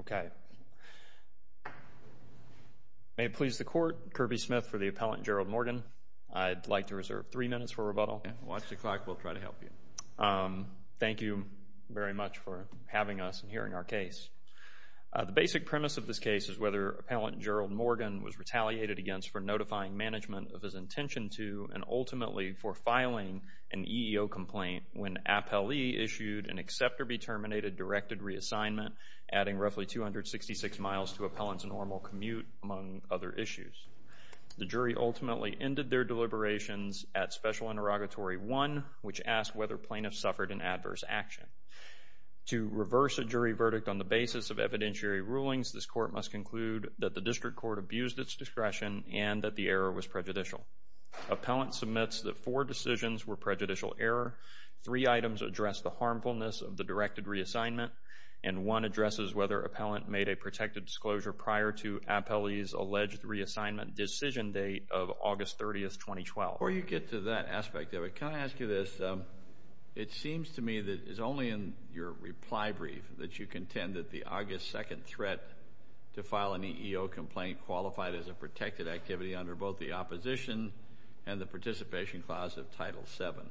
Okay. May it please the Court, Kirby Smith for the Appellant Gerald Morgan. I'd like to reserve three minutes for rebuttal. Okay. Watch the clock. We'll try to help you. Thank you very much for having us and hearing our case. The basic premise of this case is whether Appellant Gerald Morgan was retaliated against for notifying management of his intention to and ultimately for filing an EEO complaint when Appellee issued an accept or be terminated directed reassignment, adding roughly 266 miles to Appellant's normal commute, among other issues. The jury ultimately ended their deliberations at Special Interrogatory 1, which asked whether plaintiffs suffered an adverse action. To reverse a jury verdict on the basis of evidentiary rulings, this Court must conclude that the District Court abused its discretion and that the error was prejudicial. Appellant submits that four decisions were prejudicial error, three items address the harmfulness of the directed reassignment, and one addresses whether Appellant made a protected disclosure prior to Appellee's alleged reassignment decision date of August 30, 2012. Before you get to that aspect of it, can I ask you this? It seems to me that it's only in your reply brief that you contend that the August 2nd threat to file an EEO complaint qualified as a protected activity under both the opposition and the participation clause of Title VII.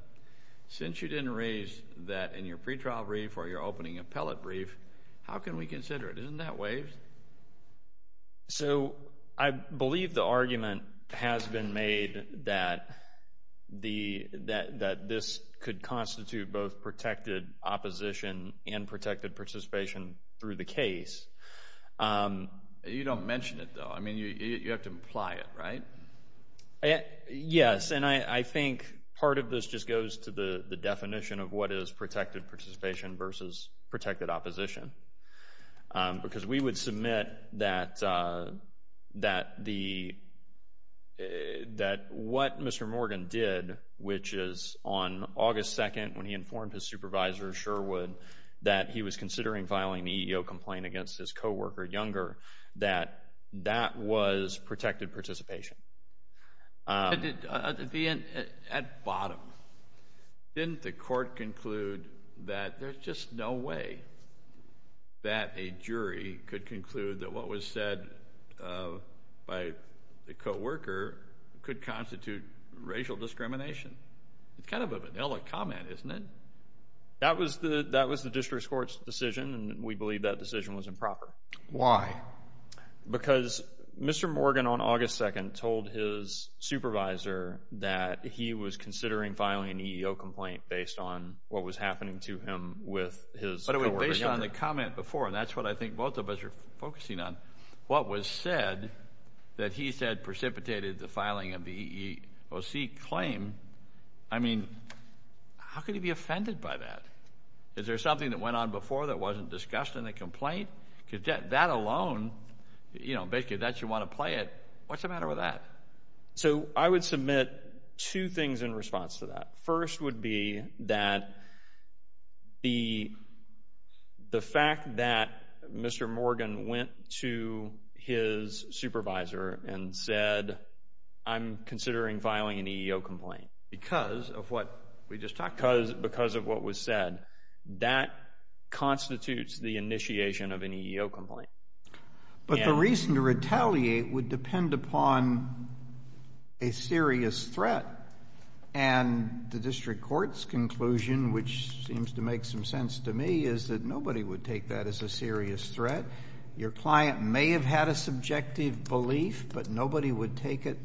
Since you didn't raise that in your pretrial brief or your opening appellate brief, how can we consider it? Isn't that waived? So I believe the argument has been made that this could constitute both protected opposition and protected participation through the case. You don't mention it, though. I mean, you have to imply it, right? Yes, and I think part of this just goes to the definition of what is protected participation versus protected opposition because we would submit that what Mr. Morgan did, which is on August 2nd when he informed his supervisor, Sherwood, that he was considering filing an EEO complaint against his co-worker, Younger, that that was protected participation. At bottom, didn't the court conclude that there's just no way that a jury could conclude that what was said by the co-worker could constitute racial discrimination? It's kind of a vanilla comment, isn't it? That was the district court's decision, and we believe that decision was improper. Why? Because Mr. Morgan on August 2nd told his supervisor that he was considering filing an EEO complaint based on what was happening to him with his co-worker, Younger. Based on the comment before, and that's what I think both of us are focusing on, what was said that he said precipitated the filing of the EEOC claim, I mean, how could he be offended by that? Is there something that went on before that wasn't discussed in the complaint? Because that alone, you know, basically that should want to play it. What's the matter with that? So I would submit two things in response to that. First would be that the fact that Mr. Morgan went to his supervisor and said, I'm considering filing an EEO complaint. Because of what we just talked about. Because of what was said. That constitutes the initiation of an EEO complaint. But the reason to retaliate would depend upon a serious threat. And the district court's conclusion, which seems to make some sense to me, is that nobody would take that as a serious threat. Your client may have had a subjective belief, but nobody would take it,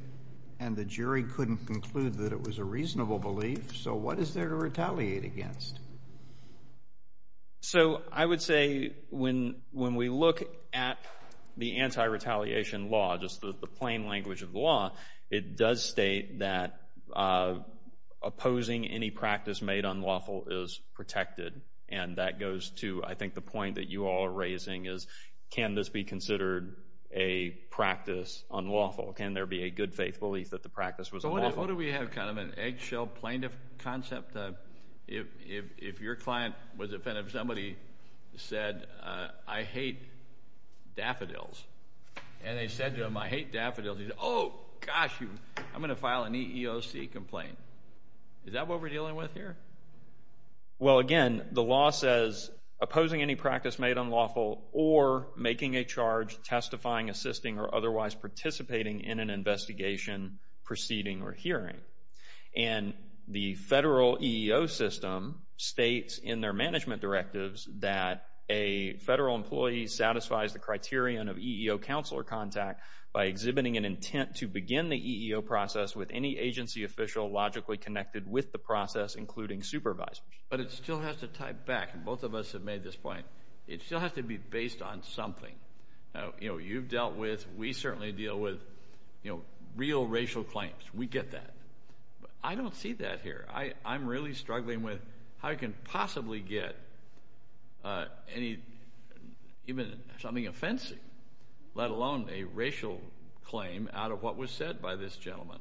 and the jury couldn't conclude that it was a reasonable belief. So what is there to retaliate against? So I would say when we look at the anti-retaliation law, just the plain language of the law, it does state that opposing any practice made unlawful is protected. And that goes to, I think, the point that you all are raising is, can this be considered a practice unlawful? Can there be a good faith belief that the practice was unlawful? What if we have kind of an eggshell plaintiff concept? If your client was offended if somebody said, I hate daffodils, and they said to him, I hate daffodils, he said, oh, gosh, I'm going to file an EEOC complaint. Is that what we're dealing with here? Well, again, the law says opposing any practice made unlawful or making a charge testifying, assisting, or otherwise participating in an investigation, proceeding, or hearing. And the federal EEO system states in their management directives that a federal employee satisfies the criterion of EEO counsel or contact by exhibiting an intent to begin the EEO process with any agency official logically connected with the process, including supervisors. But it still has to tie back, and both of us have made this point, it still has to be based on something. Now, you know, you've dealt with, we certainly deal with, you know, real racial claims. We get that. But I don't see that here. I'm really struggling with how you can possibly get even something offensive, let alone a racial claim out of what was said by this gentleman.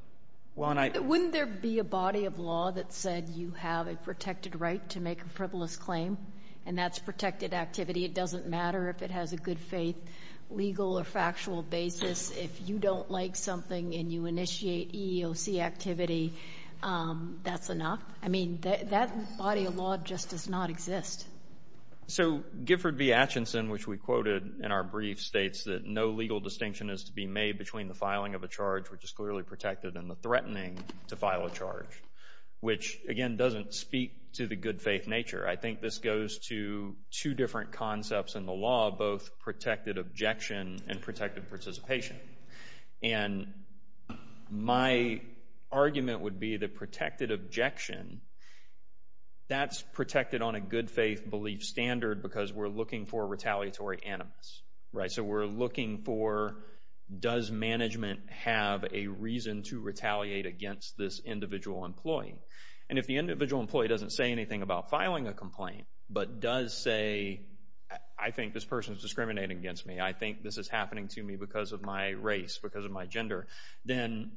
Wouldn't there be a body of law that said you have a protected right to make a frivolous claim, and that's protected activity. It doesn't matter if it has a good faith legal or factual basis. If you don't like something and you initiate EEOC activity, that's enough. I mean, that body of law just does not exist. So Gifford v. Atchison, which we quoted in our brief, states that no legal distinction is to be made between the filing of a charge, which is clearly protected, and the threatening to file a charge, which, again, doesn't speak to the good faith nature. I think this goes to two different concepts in the law, both protected objection and protected participation. And my argument would be the protected objection, that's protected on a good faith belief standard because we're looking for retaliatory animus. So we're looking for does management have a reason to retaliate against this individual employee. And if the individual employee doesn't say anything about filing a complaint, but does say I think this person is discriminating against me, I think this is happening to me because of my race, because of my gender, then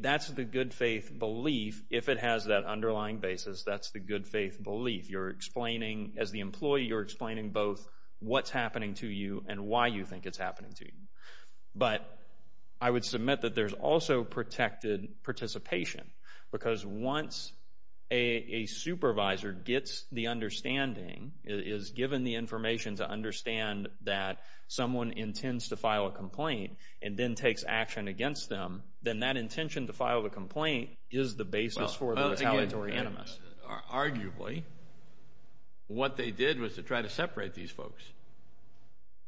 that's the good faith belief. If it has that underlying basis, that's the good faith belief. As the employee, you're explaining both what's happening to you and why you think it's happening to you. But I would submit that there's also protected participation because once a supervisor gets the understanding, is given the information to understand that someone intends to file a complaint and then takes action against them, then that intention to file the complaint is the basis for the retaliatory animus. Arguably, what they did was to try to separate these folks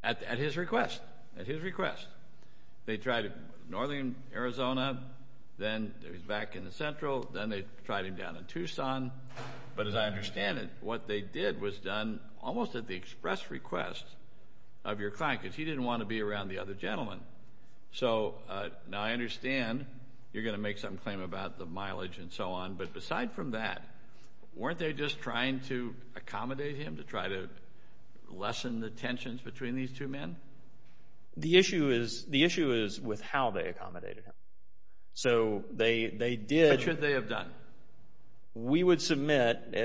at his request, at his request. They tried in northern Arizona, then he was back in the central, then they tried him down in Tucson. But as I understand it, what they did was done almost at the express request of your client because he didn't want to be around the other gentleman. So now I understand you're going to make some claim about the mileage and so on, but aside from that, weren't they just trying to accommodate him to try to lessen the tensions between these two men? The issue is with how they accommodated him. So they did. What should they have done? We would submit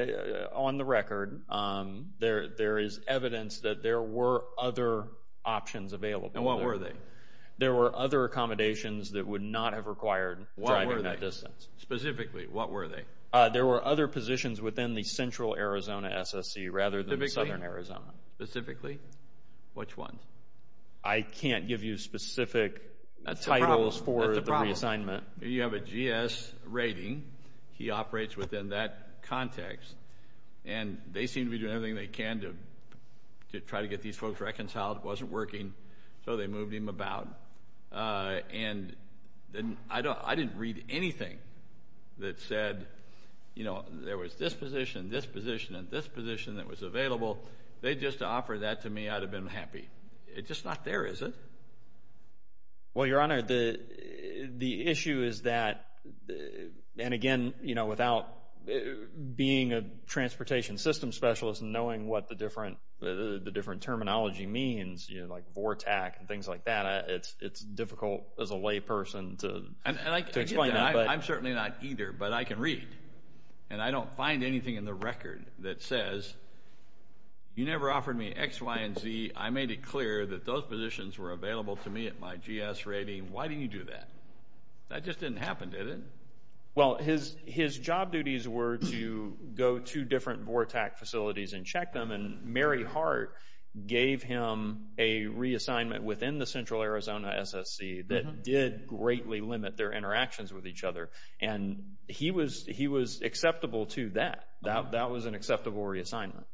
on the record there is evidence that there were other options available. And what were they? There were other accommodations that would not have required driving that distance. Specifically, what were they? There were other positions within the central Arizona SSC rather than southern Arizona. Specifically, which ones? I can't give you specific titles for the reassignment. You have a GS rating. He operates within that context. And they seem to be doing everything they can to try to get these folks reconciled. It wasn't working, so they moved him about. And I didn't read anything that said, you know, there was this position, this position, and this position that was available. If they had just offered that to me, I would have been happy. It's just not there, is it? Well, Your Honor, the issue is that, and again, you know, without being a transportation system specialist and knowing what the different terminology means, you know, like Vortac and things like that, it's difficult as a layperson to explain that. I'm certainly not either, but I can read. And I don't find anything in the record that says, you never offered me X, Y, and Z. I made it clear that those positions were available to me at my GS rating. Why didn't you do that? That just didn't happen, did it? Well, his job duties were to go to different Vortac facilities and check them. And Mary Hart gave him a reassignment within the central Arizona SSC that did greatly limit their interactions with each other. And he was acceptable to that. That was an acceptable reassignment.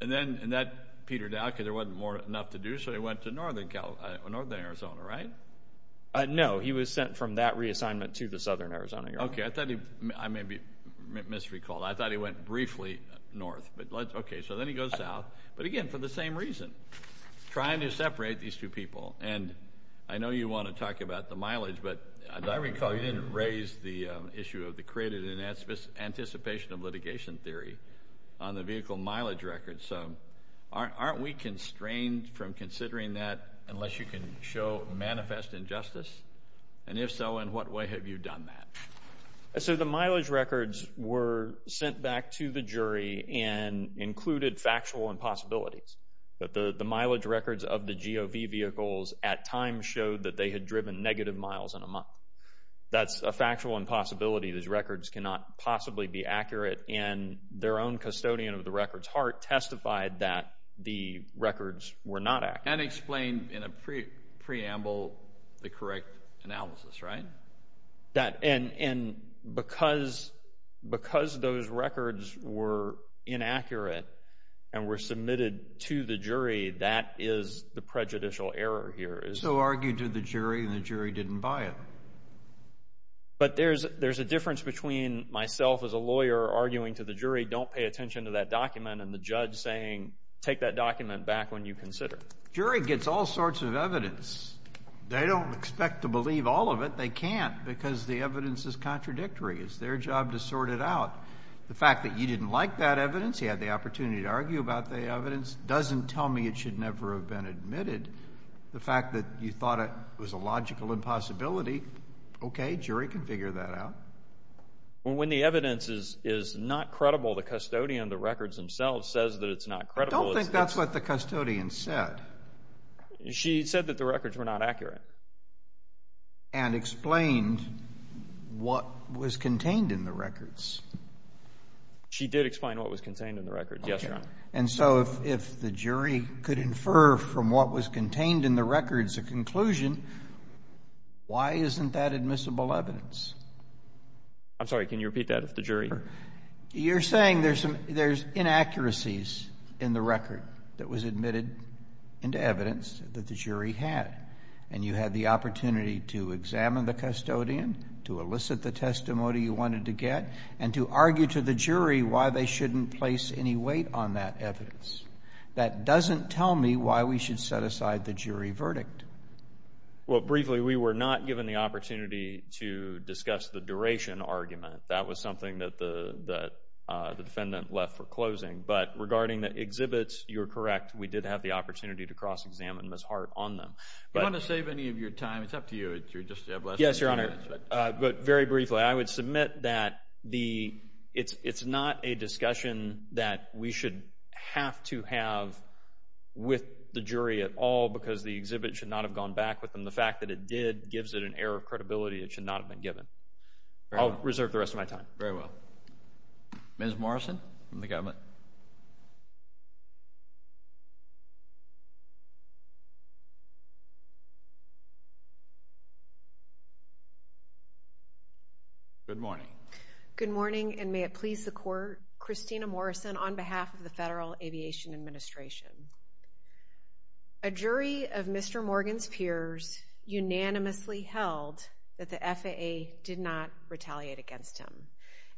And then Peter Dahlke, there wasn't enough to do, so he went to northern Arizona, right? No. He was sent from that reassignment to the southern Arizona, Your Honor. Okay. I may have misrecalled. I thought he went briefly north. Okay. So then he goes south. But again, for the same reason, trying to separate these two people. And I know you want to talk about the mileage. But I recall you didn't raise the issue of the created anticipation of litigation theory on the vehicle mileage record. So aren't we constrained from considering that unless you can show manifest injustice? And if so, in what way have you done that? So the mileage records were sent back to the jury and included factual impossibilities. But the mileage records of the GOV vehicles at times showed that they had driven negative miles in a month. That's a factual impossibility. Those records cannot possibly be accurate. And their own custodian of the records, Hart, testified that the records were not accurate. And explained in a preamble the correct analysis, right? And because those records were inaccurate and were submitted to the jury, that is the prejudicial error here. So argued to the jury, and the jury didn't buy it. But there's a difference between myself as a lawyer arguing to the jury, don't pay attention to that document, and the judge saying take that document back when you consider it. Jury gets all sorts of evidence. They don't expect to believe all of it. But they can't because the evidence is contradictory. It's their job to sort it out. The fact that you didn't like that evidence, you had the opportunity to argue about the evidence, doesn't tell me it should never have been admitted. The fact that you thought it was a logical impossibility, okay, jury can figure that out. When the evidence is not credible, the custodian of the records themselves says that it's not credible. I don't think that's what the custodian said. She said that the records were not accurate. And explained what was contained in the records. She did explain what was contained in the records, yes, Your Honor. Okay. And so if the jury could infer from what was contained in the records a conclusion, why isn't that admissible evidence? I'm sorry. Can you repeat that if the jury? You're saying there's inaccuracies in the record that was admitted into evidence that the jury had, and you had the opportunity to examine the custodian, to elicit the testimony you wanted to get, and to argue to the jury why they shouldn't place any weight on that evidence. That doesn't tell me why we should set aside the jury verdict. Well, briefly, we were not given the opportunity to discuss the duration argument. That was something that the defendant left for closing. But regarding the exhibits, you're correct. We did have the opportunity to cross-examine Ms. Hart on them. Do you want to save any of your time? It's up to you. Yes, Your Honor. But very briefly, I would submit that it's not a discussion that we should have to have with the jury at all because the exhibit should not have gone back with them. The fact that it did gives it an error of credibility. It should not have been given. I'll reserve the rest of my time. Very well. Ms. Morrison from the government. Good morning. Good morning, and may it please the Court, Christina Morrison on behalf of the Federal Aviation Administration. A jury of Mr. Morgan's peers unanimously held that the FAA did not retaliate against him.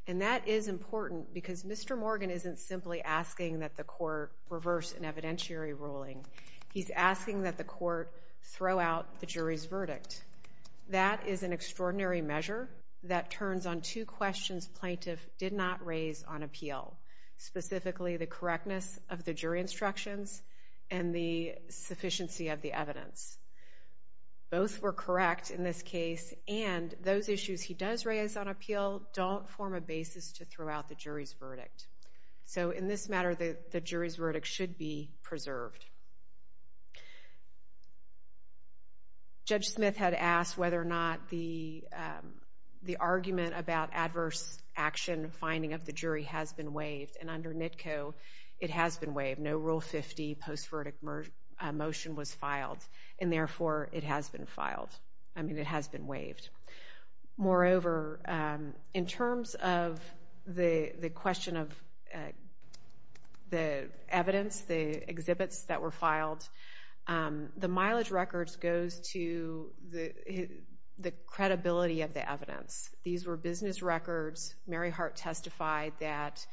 And that is important because Mr. Morgan isn't simply asking that the Court reverse an evidentiary ruling. He's asking that the Court throw out the jury's verdict. That is an extraordinary measure that turns on two questions plaintiff did not raise on appeal, specifically the correctness of the jury instructions and the sufficiency of the evidence. Both were correct in this case, and those issues he does raise on appeal don't form a basis to throw out the jury's verdict. So in this matter, the jury's verdict should be preserved. Judge Smith had asked whether or not the argument about adverse action finding of the jury has been waived, and under NITCO, it has been waived. No Rule 50 post-verdict motion was filed, and therefore, it has been filed. Moreover, in terms of the question of the evidence, the exhibits that were filed, the mileage records goes to the credibility of the evidence. These were business records. Mary Hart testified that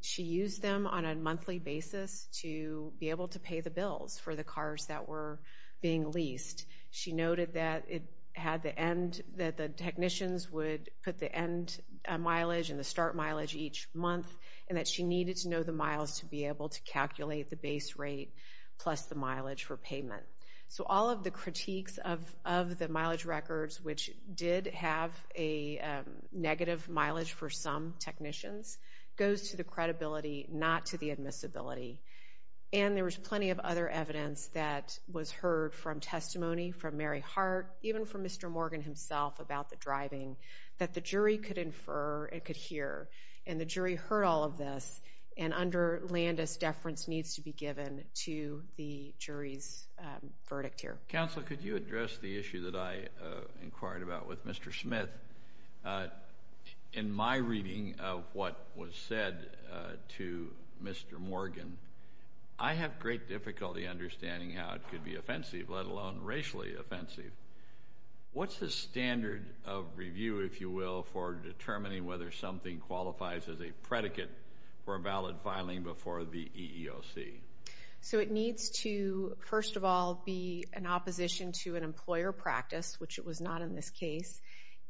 she used them on a monthly basis to be able to pay the bills for the cars that were being leased. She noted that the technicians would put the end mileage and the start mileage each month, and that she needed to know the miles to be able to calculate the base rate plus the mileage for payment. So all of the critiques of the mileage records, which did have a negative mileage for some technicians, goes to the credibility, not to the admissibility. And there was plenty of other evidence that was heard from testimony from Mary Hart, even from Mr. Morgan himself about the driving, that the jury could infer and could hear. And the jury heard all of this, and under Landis, deference needs to be given to the jury's verdict here. Counsel, could you address the issue that I inquired about with Mr. Smith? In my reading of what was said to Mr. Morgan, I have great difficulty understanding how it could be offensive, let alone racially offensive. What's the standard of review, if you will, for determining whether something qualifies as a predicate for a valid filing before the EEOC? So it needs to, first of all, be an opposition to an employer practice, which it was not in this case,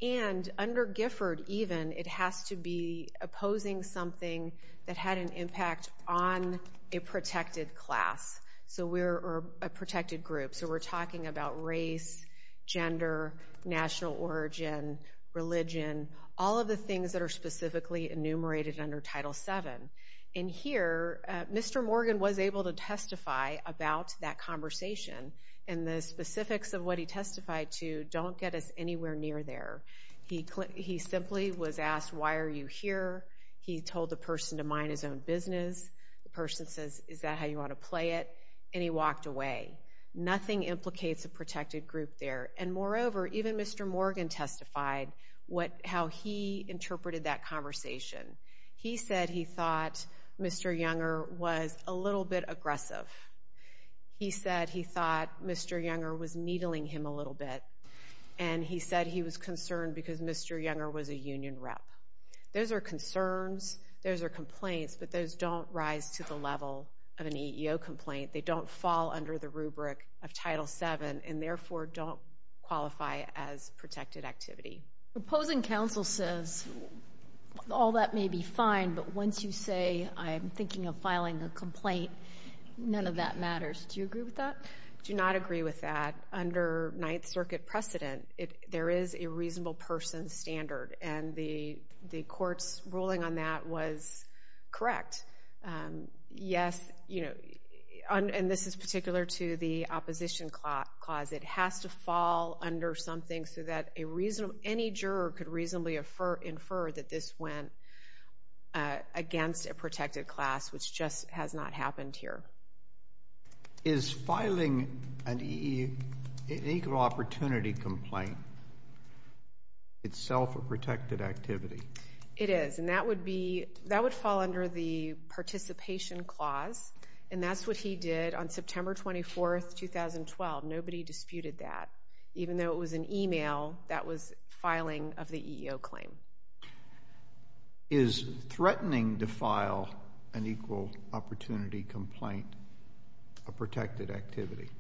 and under Gifford, even, it has to be opposing something that had an impact on a protected class or a protected group. So we're talking about race, gender, national origin, religion, all of the things that are specifically enumerated under Title VII. And here, Mr. Morgan was able to testify about that conversation, and the specifics of what he testified to don't get us anywhere near there. He simply was asked, why are you here? He told the person to mind his own business. The person says, is that how you want to play it? And he walked away. Nothing implicates a protected group there. And moreover, even Mr. Morgan testified how he interpreted that conversation. He said he thought Mr. Younger was a little bit aggressive. He said he thought Mr. Younger was needling him a little bit. And he said he was concerned because Mr. Younger was a union rep. Those are concerns. Those are complaints. But those don't rise to the level of an EEO complaint. They don't fall under the rubric of Title VII and, therefore, don't qualify as protected activity. Proposing counsel says, all that may be fine, but once you say I'm thinking of filing a complaint, none of that matters. Do you agree with that? I do not agree with that. Under Ninth Circuit precedent, there is a reasonable person standard, and the court's ruling on that was correct. Yes, and this is particular to the opposition clause. It has to fall under something so that any juror could reasonably infer that this went against a protected class, which just has not happened here. Is filing an EEO complaint itself a protected activity? It is, and that would fall under the participation clause, and that's what he did on September 24, 2012. Nobody disputed that, even though it was an e-mail that was filing of the EEO claim. Is threatening to file an equal opportunity complaint a protected activity?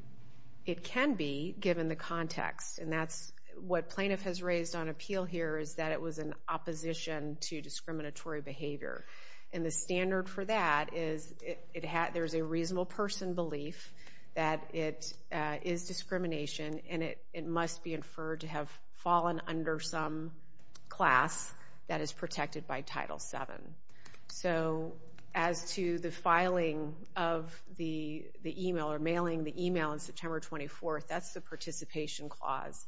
It can be, given the context, and that's what plaintiff has raised on appeal here is that it was in opposition to discriminatory behavior. And the standard for that is there's a reasonable person belief that it is discrimination, and it must be inferred to have fallen under some class that is protected by Title VII. So as to the filing of the e-mail or mailing the e-mail on September 24, that's the participation clause.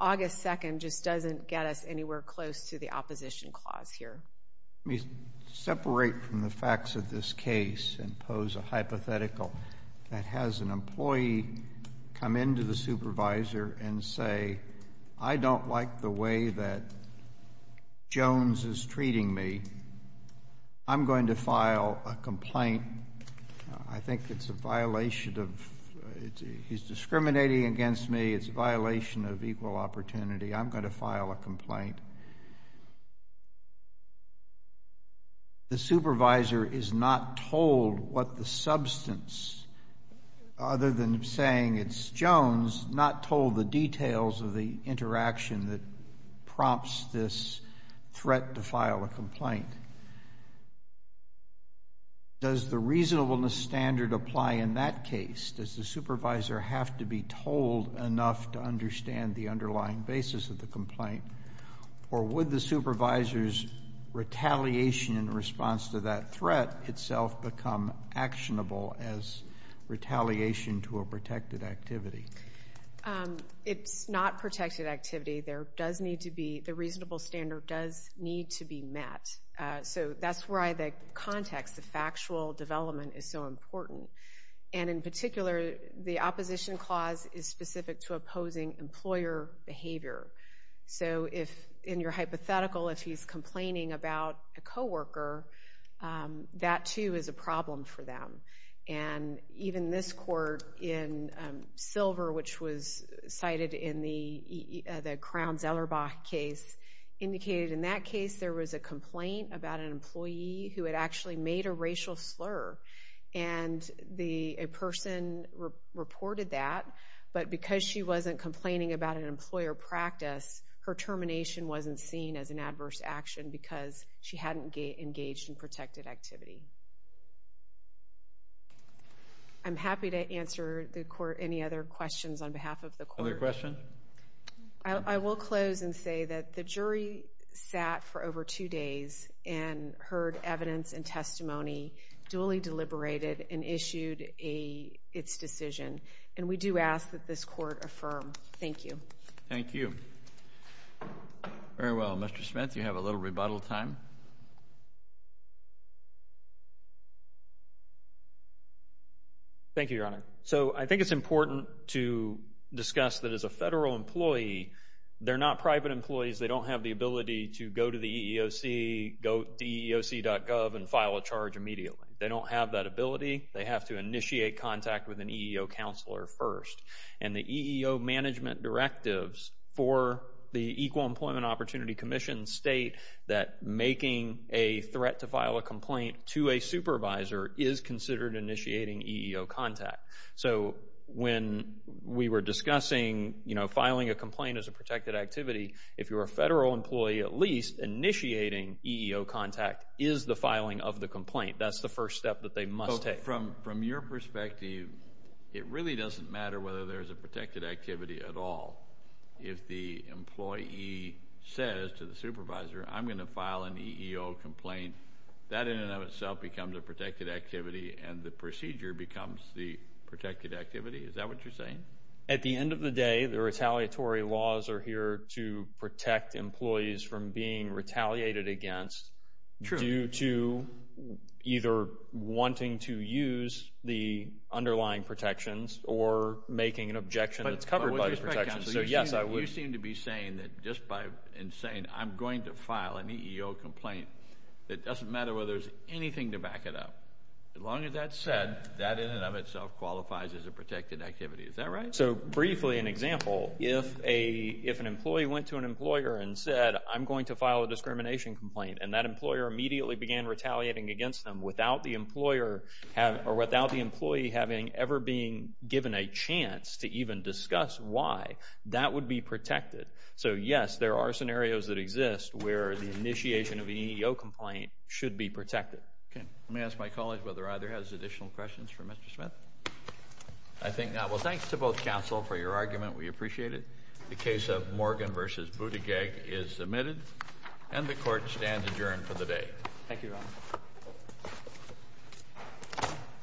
August 2 just doesn't get us anywhere close to the opposition clause here. Let me separate from the facts of this case and pose a hypothetical that has an employee come into the supervisor and say, I don't like the way that Jones is treating me. I'm going to file a complaint. I think it's a violation of he's discriminating against me. It's a violation of equal opportunity. I'm going to file a complaint. The supervisor is not told what the substance, other than saying it's Jones, not told the details of the interaction that prompts this threat to file a complaint. Does the reasonableness standard apply in that case? Does the supervisor have to be told enough to understand the underlying basis of the complaint? Or would the supervisor's retaliation in response to that threat itself become actionable as retaliation to a protected activity? It's not protected activity. There does need to be the reasonable standard does need to be met. So that's why the context, the factual development is so important. And in particular, the opposition clause is specific to opposing employer behavior. So if in your hypothetical, if he's complaining about a co-worker, that too is a problem for them. And even this court in Silver, which was cited in the Crown-Zellerbach case, indicated in that case there was a complaint about an employee who had actually made a racial slur. And a person reported that, but because she wasn't complaining about an employer practice, her termination wasn't seen as an adverse action because she hadn't engaged in protected activity. I'm happy to answer any other questions on behalf of the court. Other questions? I will close and say that the jury sat for over two days and heard evidence and testimony duly deliberated and issued its decision. And we do ask that this court affirm. Thank you. Thank you. Very well. Mr. Smith, you have a little rebuttal time. Thank you, Your Honor. So I think it's important to discuss that as a federal employee, they're not private employees. They don't have the ability to go to the EEOC, go to EEOC.gov and file a charge immediately. They don't have that ability. They have to initiate contact with an EEO counselor first. And the EEO management directives for the Equal Employment Opportunity Commission state that making a threat to file a complaint to a supervisor is considered initiating EEO contact. So when we were discussing, you know, filing a complaint as a protected activity, if you're a federal employee at least, initiating EEO contact is the filing of the complaint. That's the first step that they must take. So from your perspective, it really doesn't matter whether there's a protected activity at all. If the employee says to the supervisor, I'm going to file an EEO complaint, that in and of itself becomes a protected activity and the procedure becomes the protected activity. Is that what you're saying? At the end of the day, the retaliatory laws are here to protect employees from being retaliated against. True. Due to either wanting to use the underlying protections or making an objection that's covered by the protections. So, yes, I would. You seem to be saying that just by saying I'm going to file an EEO complaint, it doesn't matter whether there's anything to back it up. As long as that's said, that in and of itself qualifies as a protected activity. Is that right? So, briefly, an example, if an employee went to an employer and said, I'm going to file a discrimination complaint, and that employer immediately began retaliating against them without the employer or without the employee having ever been given a chance to even discuss why, that would be protected. So, yes, there are scenarios that exist where the initiation of an EEO complaint should be protected. Let me ask my colleague whether either has additional questions for Mr. Smith. I think not. Well, thanks to both counsel for your argument. We appreciate it. The case of Morgan v. Buttigieg is submitted, and the court stands adjourned for the day. Thank you, Your Honor.